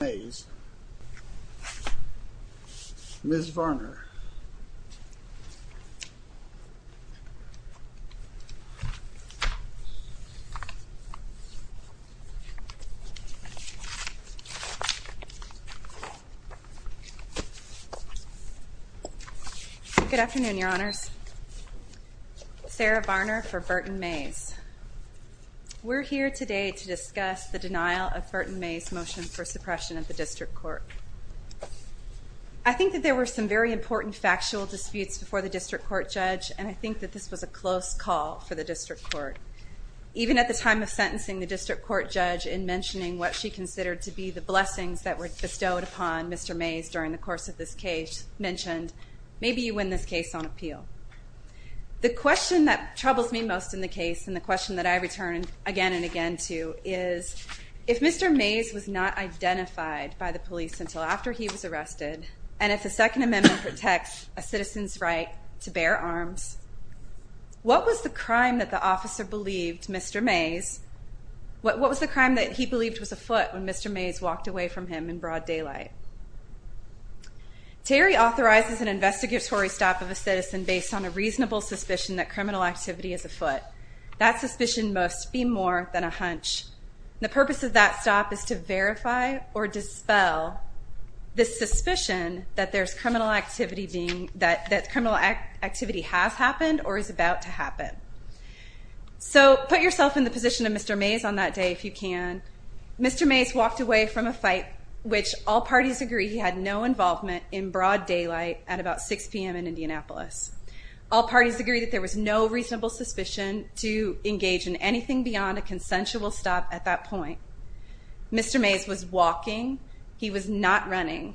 Ms. Varner Good afternoon, Your Honors. Sarah Varner for Berton Mays. We're here today to discuss the denial of Berton Mays' motion for suppression at the district court. I think that there were some very important factual disputes before the district court judge, and I think that this was a close call for the district court. Even at the time of sentencing, the district court judge, in mentioning what she considered to be the blessings that were bestowed upon Mr. Mays during the course of this case, mentioned, maybe you win this case on appeal. The question that troubles me most in the case, and the question that I return again and again to, is, if Mr. Mays was not identified by the police until after he was arrested, and if the Second Amendment protects a citizen's right to bear arms, what was the crime that the officer believed Mr. Mays, what was the crime that he believed was afoot when Mr. Mays walked away from him in broad daylight? Terry authorizes an investigatory stop of a citizen based on a reasonable suspicion that criminal activity is afoot. That suspicion must be more than a hunch. The purpose of that stop is to verify or dispel the suspicion that criminal activity has happened or is about to happen. So, put yourself in the position of Mr. Mays on that day if you can. Mr. Mays walked away from a fight which all parties agree he had no involvement in broad daylight at about 6 p.m. in Indianapolis. All parties agree that there was no reasonable suspicion to engage in anything beyond a consensual stop at that point. Mr. Mays was walking. He was not running.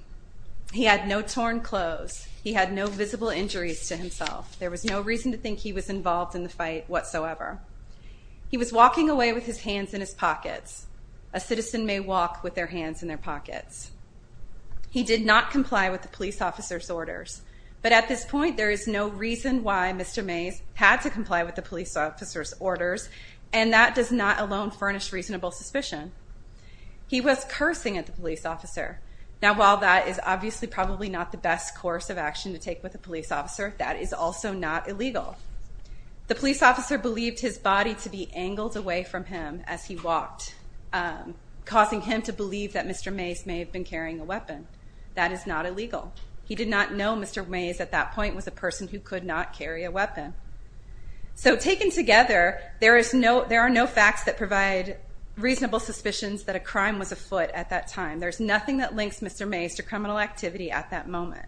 He had no torn clothes. He had no visible injuries to himself. There was no reason to think he was involved in the fight whatsoever. He was walking away with his hands in his pockets. A citizen may walk with their hands in their pockets. He did not comply with the police officer's orders. But at this point, there is no reason why Mr. Mays had to comply with the police officer's orders, and that does not alone furnish reasonable suspicion. He was cursing at the police officer. Now, while that is obviously probably not the best course of action to take with a police officer, that is also not illegal. The police officer believed his body to be angled away from him as he walked, causing him to believe that Mr. Mays may have been carrying a weapon. That is not illegal. He did not know Mr. Mays at that point was a person who could not carry a weapon. So taken together, there are no facts that provide reasonable suspicions that a crime was afoot at that time. There's nothing that links Mr. Mays to criminal activity at that moment.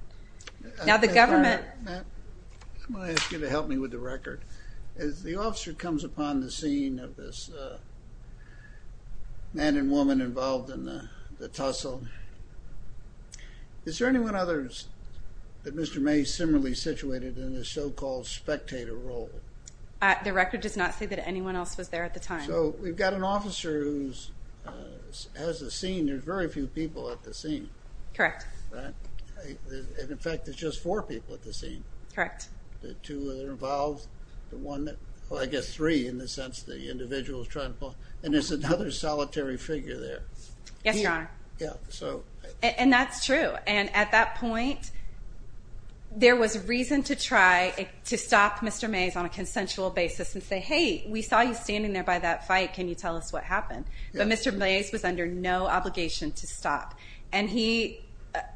Now, the government... I'm going to ask you to help me with the record. As the officer comes upon the scene of this man and woman involved in the tussle, is there anyone else that Mr. Mays similarly situated in the so-called spectator role? The record does not say that anyone else was there at the time. So we've got an officer who has a scene. There's very few people at the scene. Correct. In fact, there's just four people at the scene. Correct. The two that are involved, the one that... Well, I guess three in the sense the individual is trying to pull. And there's another solitary figure there. Yes, Your Honor. Yeah, so... And that's true. And at that point, there was reason to try to stop Mr. Mays on a consensual basis and say, Hey, we saw you standing there by that fight. Can you tell us what happened? But Mr. Mays was under no obligation to stop. And he,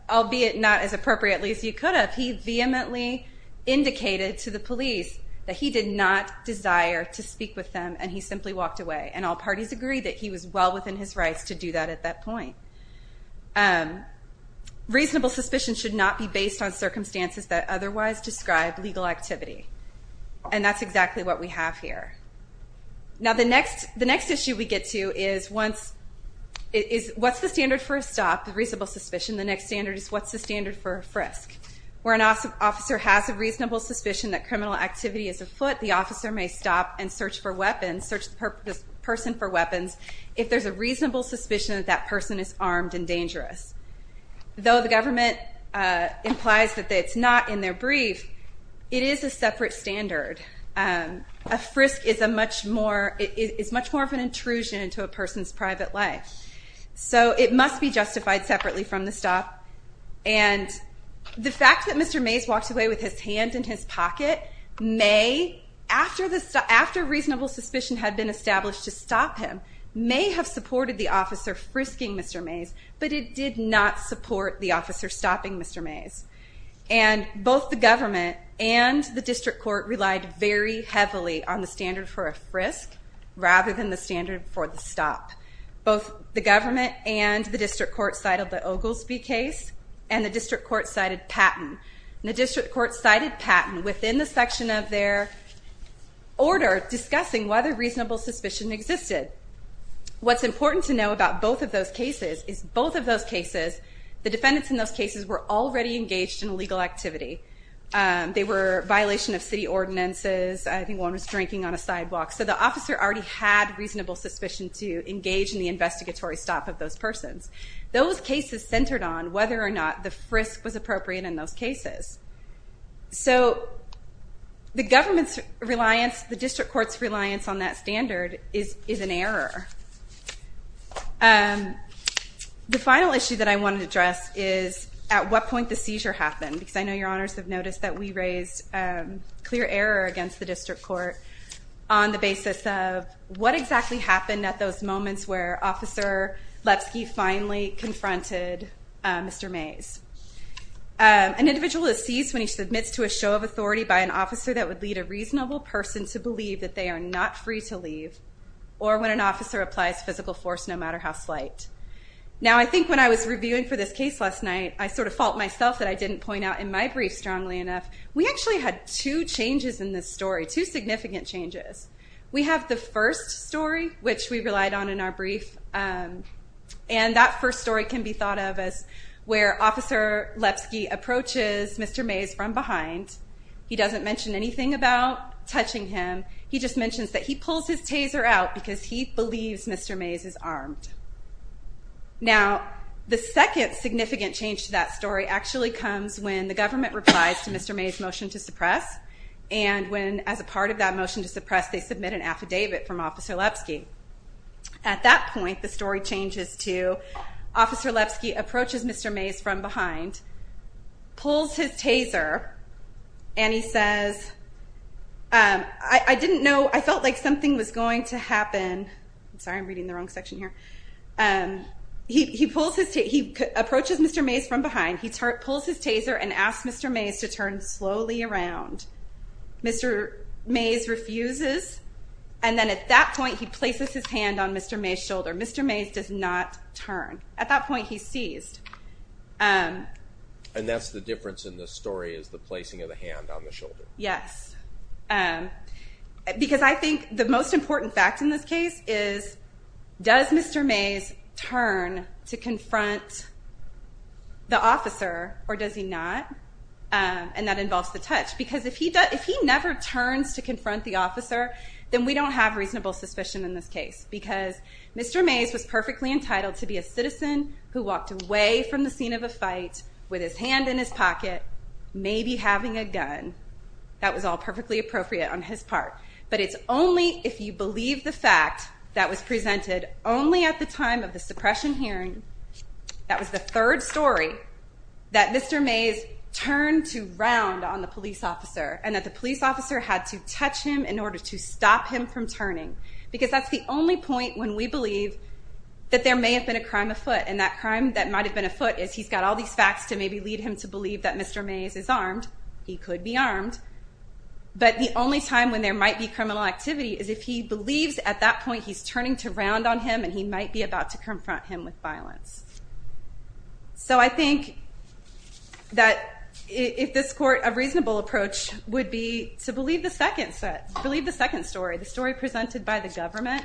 albeit not as appropriately as he could have, he vehemently indicated to the police that he did not desire to speak with them, and he simply walked away. And all parties agreed that he was well within his rights to do that at that point. Reasonable suspicion should not be based on circumstances that otherwise describe legal activity. And that's exactly what we have here. Now, the next issue we get to is what's the standard for a stop, reasonable suspicion? The next standard is what's the standard for a frisk? Where an officer has a reasonable suspicion that criminal activity is afoot, the officer may stop and search for weapons, search the person for weapons, if there's a reasonable suspicion that that person is armed and dangerous. Though the government implies that it's not in their brief, it is a separate standard. A frisk is much more of an intrusion into a person's private life. So it must be justified separately from the stop. And the fact that Mr. Mays walked away with his hand in his pocket may, after reasonable suspicion had been established to stop him, may have supported the officer frisking Mr. Mays, but it did not support the officer stopping Mr. Mays. And both the government and the district court relied very heavily on the standard for a frisk rather than the standard for the stop. Both the government and the district court cited the Oglesby case and the district court cited Patton. And the district court cited Patton within the section of their order discussing whether reasonable suspicion existed. What's important to know about both of those cases is both of those cases, the defendants in those cases were already engaged in illegal activity. They were violation of city ordinances. I think one was drinking on a sidewalk. So the officer already had reasonable suspicion to engage in the investigatory stop of those persons. Those cases centered on whether or not the frisk was appropriate in those cases. So the government's reliance, the district court's reliance on that standard is an error. The final issue that I want to address is at what point the seizure happened, because I know your honors have noticed that we raised clear error against the district court on the basis of what exactly happened at those moments where Officer Lepsky finally confronted Mr. Mays. An individual is seized when he submits to a show of authority by an officer that would lead a reasonable person to believe that they are not free to leave or when an officer applies physical force no matter how slight. Now I think when I was reviewing for this case last night, I sort of fault myself that I didn't point out in my brief strongly enough, we actually had two changes in this story, two significant changes. We have the first story, which we relied on in our brief, and that first story can be thought of as where Officer Lepsky approaches Mr. Mays from behind. He doesn't mention anything about touching him. He just mentions that he pulls his taser out because he believes Mr. Mays is armed. Now the second significant change to that story actually comes when the government replies to Mr. Mays' motion to suppress, and when as a part of that motion to suppress, they submit an affidavit from Officer Lepsky. At that point, the story changes to Officer Lepsky approaches Mr. Mays from behind, pulls his taser, and he says, I didn't know, I felt like something was going to happen. Sorry, I'm reading the wrong section here. He approaches Mr. Mays from behind. He pulls his taser and asks Mr. Mays to turn slowly around. Mr. Mays refuses, and then at that point, he places his hand on Mr. Mays' shoulder. Mr. Mays does not turn. At that point, he's seized. And that's the difference in this story is the placing of the hand on the shoulder. Yes. Because I think the most important fact in this case is, does Mr. Mays turn to confront the officer, or does he not? And that involves the touch. Because if he never turns to confront the officer, then we don't have reasonable suspicion in this case because Mr. Mays was perfectly entitled to be a citizen who walked away from the scene of a fight with his hand in his pocket, maybe having a gun. That was all perfectly appropriate on his part. But it's only if you believe the fact that was presented only at the time of the suppression hearing, that was the third story, that Mr. Mays turned to round on the police officer and that the police officer had to touch him in order to stop him from turning. Because that's the only point when we believe that there may have been a crime afoot. And that crime that might have been afoot is he's got all these facts to maybe lead him to believe that Mr. Mays is armed. He could be armed. But the only time when there might be criminal activity is if he believes at that point he's turning to round on him and he might be about to confront him with violence. So I think that if this court, a reasonable approach would be to believe the second story, the story presented by the government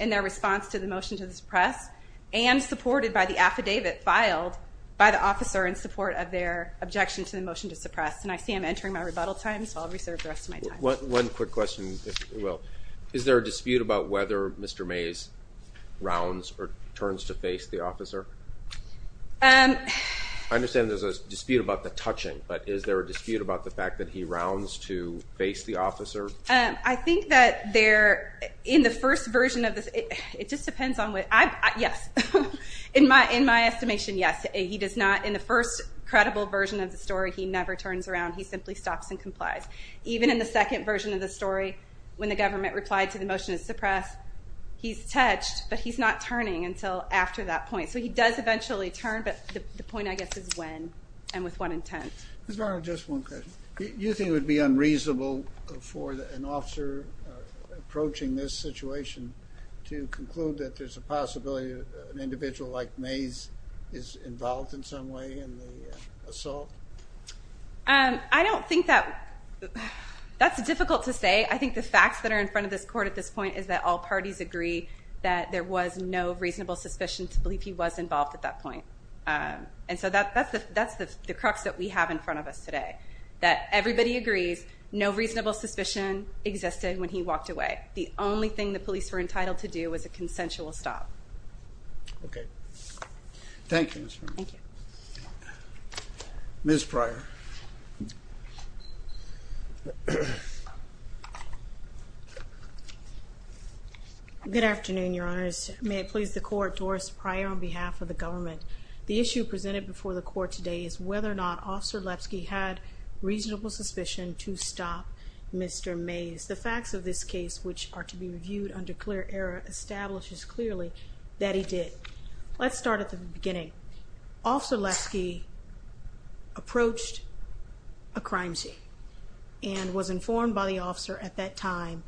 in their response to the motion to suppress and supported by the affidavit filed by the officer in support of their objection to the motion to suppress. And I see I'm entering my rebuttal time, so I'll reserve the rest of my time. One quick question, if you will. Is there a dispute about whether Mr. Mays rounds or turns to face the officer? I understand there's a dispute about the touching, but is there a dispute about the fact that he rounds to face the officer? I think that there, in the first version of this, it just depends on what, yes. In my estimation, yes. He does not, in the first credible version of the story, he never turns around. He simply stops and complies. Even in the second version of the story, when the government replied to the motion to suppress, he's touched, but he's not turning until after that point. So he does eventually turn, but the point, I guess, is when and with what intent. Ms. Varno, just one question. You think it would be unreasonable for an officer approaching this situation to conclude that there's a possibility an individual like Mays is involved in some way in the assault? I don't think that, that's difficult to say. I think the facts that are in front of this court at this point is that all parties agree that there was no reasonable suspicion to believe he was involved at that point. And so that's the crux that we have in front of us today, that everybody agrees no reasonable suspicion existed when he walked away. The only thing the police were entitled to do was a consensual stop. Okay. Thank you, Ms. Varno. Thank you. Ms. Pryor. Good afternoon, Your Honors. May it please the Court, Doris Pryor on behalf of the government. The issue presented before the Court today is whether or not Officer Lepsky had reasonable suspicion to stop Mr. Mays. The facts of this case, which are to be reviewed under clear error, establishes clearly that he did. Let's start at the beginning. Officer Lepsky approached a crime scene and was informed by the officer at that time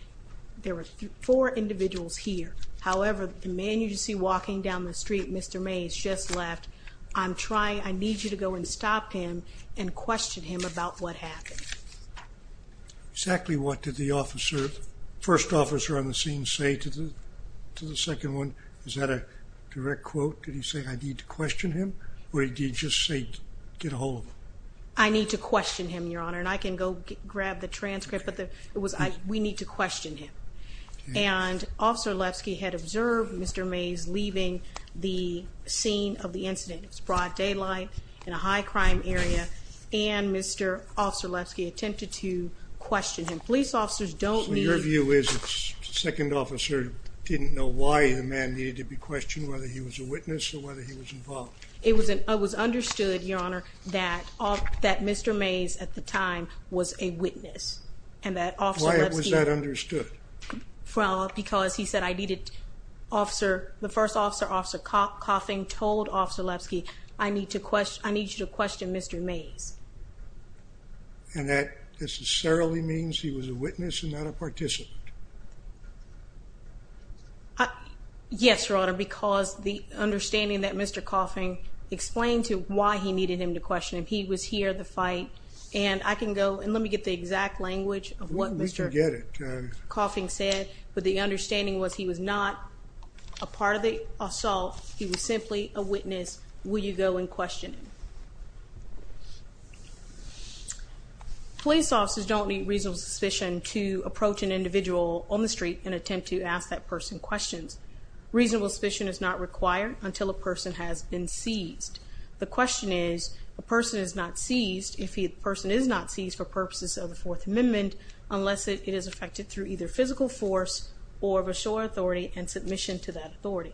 there were four individuals here. However, the man you see walking down the street, Mr. Mays, just left. I need you to go and stop him and question him about what happened. Exactly what did the first officer on the scene say to the second one? Is that a direct quote? Did he say, I need to question him, or did he just say, get a hold of him? I need to question him, Your Honor. And I can go grab the transcript, but we need to question him. And Officer Lepsky had observed Mr. Mays leaving the scene of the incident. It was broad daylight in a high-crime area, and Mr. Officer Lepsky attempted to question him. Police officers don't need to. So your view is the second officer didn't know why the man needed to be questioned, whether he was a witness or whether he was involved? It was understood, Your Honor, that Mr. Mays at the time was a witness. Why was that understood? Well, because he said, I needed officer, the first officer, Officer Coffin, told Officer Lepsky, I need you to question Mr. Mays. And that necessarily means he was a witness and not a participant? Yes, Your Honor, because the understanding that Mr. Coffin explained to why he needed him to question him, he was here at the fight, and I can go, and let me get the exact language of what Mr. Coffin said, but the understanding was he was not a part of the assault. He was simply a witness. Will you go and question him? Police officers don't need reasonable suspicion to approach an individual on the street and attempt to ask that person questions. Reasonable suspicion is not required until a person has been seized. The question is, a person is not seized, if the person is not seized for purposes of the Fourth Amendment, unless it is affected through either physical force or of a sure authority and submission to that authority.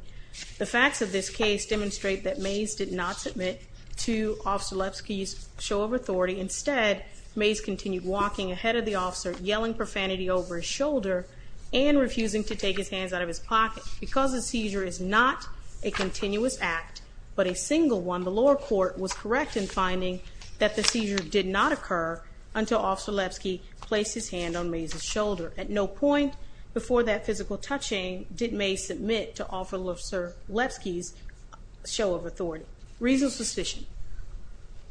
The facts of this case demonstrate that Mays did not submit to Officer Lepsky's show of authority. Instead, Mays continued walking ahead of the officer, yelling profanity over his shoulder, and refusing to take his hands out of his pocket. Because the seizure is not a continuous act, but a single one, the lower court was correct in finding that the seizure did not occur until Officer Lepsky placed his hand on Mays' shoulder. At no point before that physical touching did Mays submit to Officer Lepsky's show of authority. Reasonable suspicion.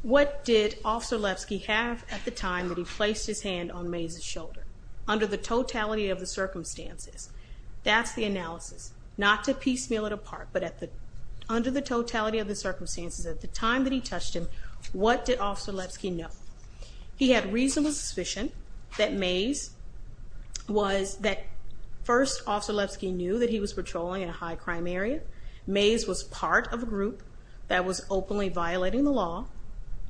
What did Officer Lepsky have at the time that he placed his hand on Mays' shoulder? Under the totality of the circumstances. That's the analysis. Not to piecemeal it apart, but under the totality of the circumstances, at the time that he touched him, what did Officer Lepsky know? He had reasonable suspicion that Mays was, that first Officer Lepsky knew that he was patrolling in a high crime area. Mays was part of a group that was openly violating the law.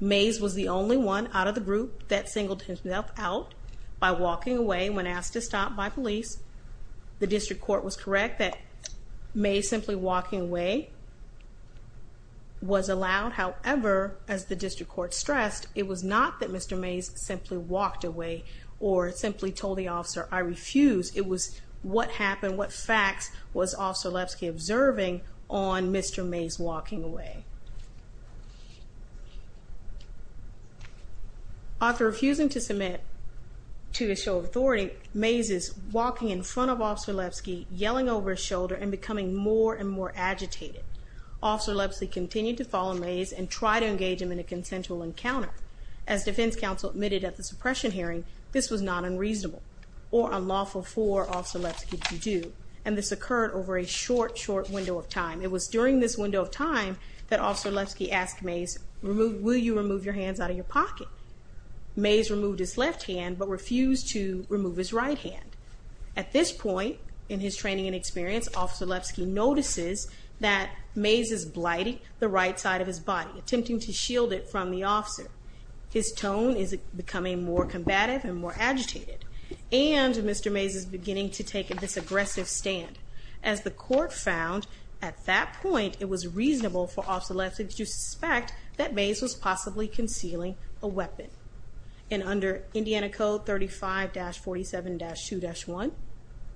Mays was the only one out of the group that singled himself out by walking away when asked to stop by police. The district court was correct that Mays simply walking away was allowed. However, as the district court stressed, it was not that Mr. Mays simply walked away, or simply told the officer, I refuse. It was what happened, what facts was Officer Lepsky observing on Mr. Mays walking away? After refusing to submit to a show of authority, Mays is walking in front of Officer Lepsky, yelling over his shoulder, and becoming more and more agitated. Officer Lepsky continued to follow Mays and try to engage him in a consensual encounter. As defense counsel admitted at the suppression hearing, this was not unreasonable or unlawful for Officer Lepsky to do, and this occurred over a short, short window of time. It was during this window of time that Officer Lepsky asked Mays, will you remove your hands out of your pocket? Mays removed his left hand, but refused to remove his right hand. At this point in his training and experience, Officer Lepsky notices that Mays is blighting the right side of his body, attempting to shield it from the officer. His tone is becoming more combative and more agitated. And Mr. Mays is beginning to take this aggressive stand. As the court found, at that point, it was reasonable for Officer Lepsky to suspect that Mays was possibly concealing a weapon. And under Indiana Code 35-47-2-1,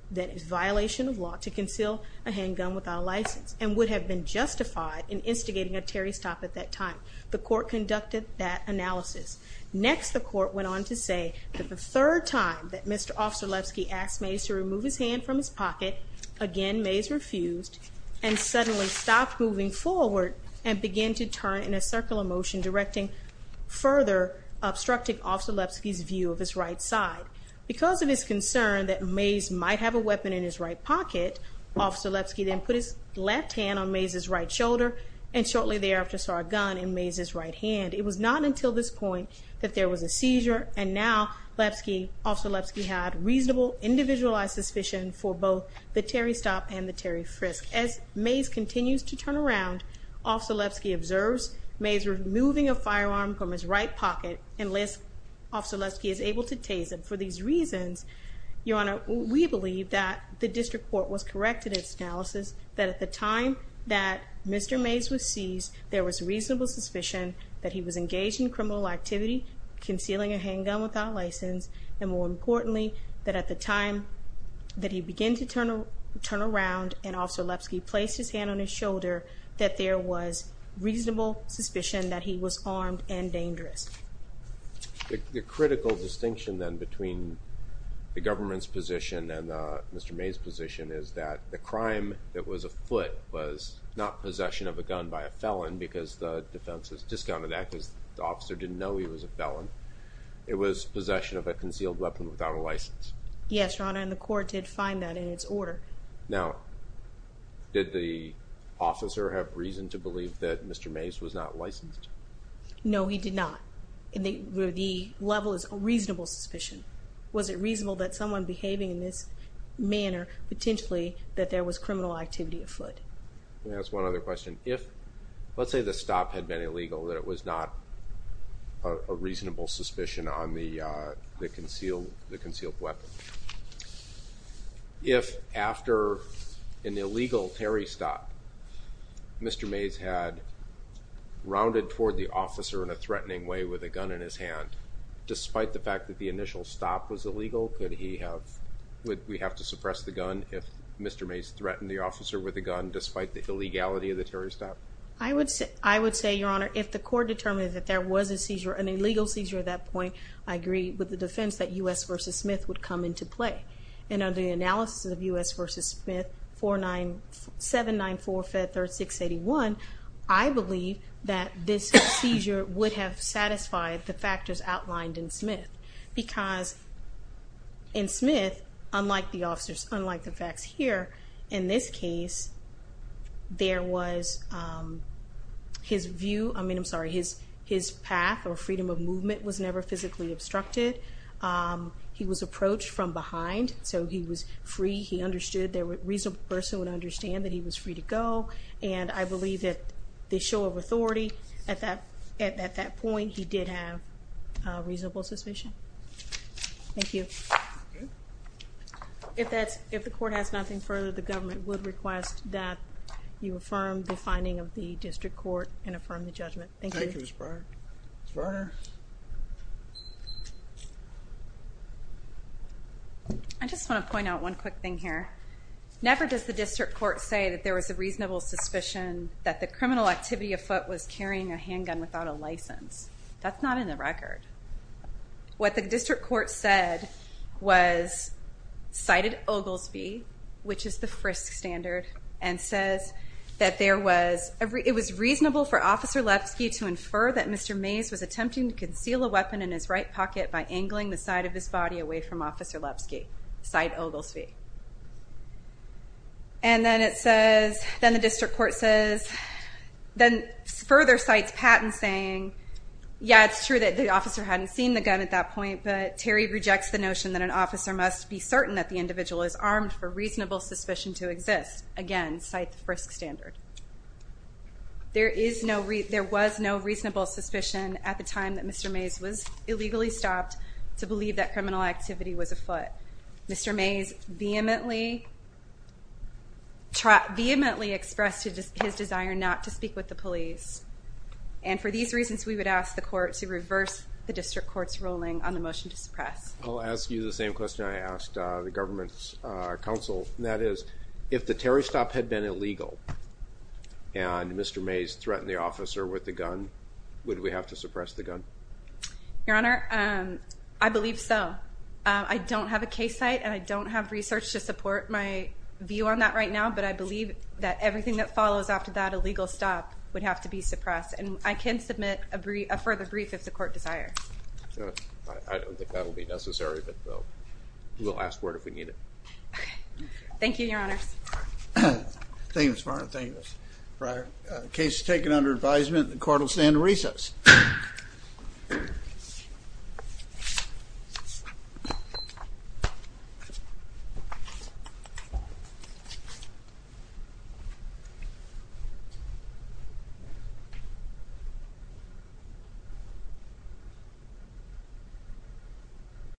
that is violation of law to conceal a handgun without a license, and would have been justified in instigating a Terry stop at that time. The court conducted that analysis. Next, the court went on to say that the third time that Mr. Officer Lepsky asked Mays to remove his hand from his pocket, again Mays refused and suddenly stopped moving forward and began to turn in a circular motion, directing further obstructing Officer Lepsky's view of his right side. Because of his concern that Mays might have a weapon in his right pocket, Officer Lepsky then put his left hand on Mays' right shoulder and shortly thereafter saw a gun in Mays' right hand. It was not until this point that there was a seizure, and now Officer Lepsky had reasonable, individualized suspicion for both the Terry stop and the Terry frisk. As Mays continues to turn around, Officer Lepsky observes Mays removing a firearm from his right pocket, unless Officer Lepsky is able to tase him. For these reasons, Your Honor, we believe that the district court was correct in its analysis, that at the time that Mr. Mays was seized, there was reasonable suspicion that he was engaged in criminal activity, concealing a handgun without license, and more importantly, that at the time that he began to turn around and Officer Lepsky placed his hand on his shoulder, that there was reasonable suspicion that he was armed and dangerous. The critical distinction, then, between the government's position and Mr. Mays' position is that the crime that was afoot was not possession of a gun by a felon, because the defense has discounted that because the officer didn't know he was a felon. It was possession of a concealed weapon without a license. Yes, Your Honor, and the court did find that in its order. Now, did the officer have reason to believe that Mr. Mays was not licensed? No, he did not. The level is reasonable suspicion. Was it reasonable that someone behaving in this manner, potentially, that there was criminal activity afoot? Let me ask one other question. Let's say the stop had been illegal, that it was not a reasonable suspicion on the concealed weapon. If after an illegal parry stop, Mr. Mays had rounded toward the officer in a threatening way with a gun in his hand, despite the fact that the initial stop was illegal, would we have to suppress the gun if Mr. Mays threatened the officer with a gun, despite the illegality of the parry stop? I would say, Your Honor, if the court determined that there was an illegal seizure at that point, I agree with the defense that U.S. v. Smith would come into play. And under the analysis of U.S. v. Smith, 794-536-81, I believe that this seizure would have satisfied the factors outlined in Smith. Because in Smith, unlike the facts here, in this case, his path or freedom of movement was never physically obstructed. He was approached from behind, so he was free. He understood that a reasonable person would understand that he was free to go. And I believe that the show of authority at that point, he did have a reasonable suspicion. Thank you. If the court has nothing further, the government would request that you affirm the finding of the district court and affirm the judgment. Thank you. Thank you, Ms. Briner. Ms. Briner? I just want to point out one quick thing here. Never does the district court say that there was a reasonable suspicion that the criminal activity afoot was carrying a handgun without a license. That's not in the record. What the district court said was cited Oglesby, which is the Frisk standard, and says that it was reasonable for Officer Lepsky to infer that Mr. Mays was attempting to conceal a weapon in his right pocket by angling the side of his body away from Officer Lepsky. Cite Oglesby. And then it says, then the district court says, then further cites Patton saying, yeah, it's true that the officer hadn't seen the gun at that point, but Terry rejects the notion that an officer must be certain that the individual is armed for reasonable suspicion to exist. Again, cite the Frisk standard. There was no reasonable suspicion at the time that Mr. Mays was illegally stopped to believe that criminal activity was afoot. Mr. Mays vehemently expressed his desire not to speak with the police, and for these reasons we would ask the court to reverse the district court's ruling on the motion to suppress. I'll ask you the same question I asked the government's counsel, and that is if the Terry stop had been illegal and Mr. Mays threatened the officer with the gun, would we have to suppress the gun? Your Honor, I believe so. I don't have a case site and I don't have research to support my view on that right now, but I believe that everything that follows after that illegal stop would have to be suppressed, and I can submit a further brief if the court desires. I don't think that will be necessary, but we'll ask for it if we need it. Okay. Thank you, Your Honors. Thank you, Ms. Varner. Thank you, Ms. Breyer. Case is taken under advisement. The court will stand at recess. Thank you.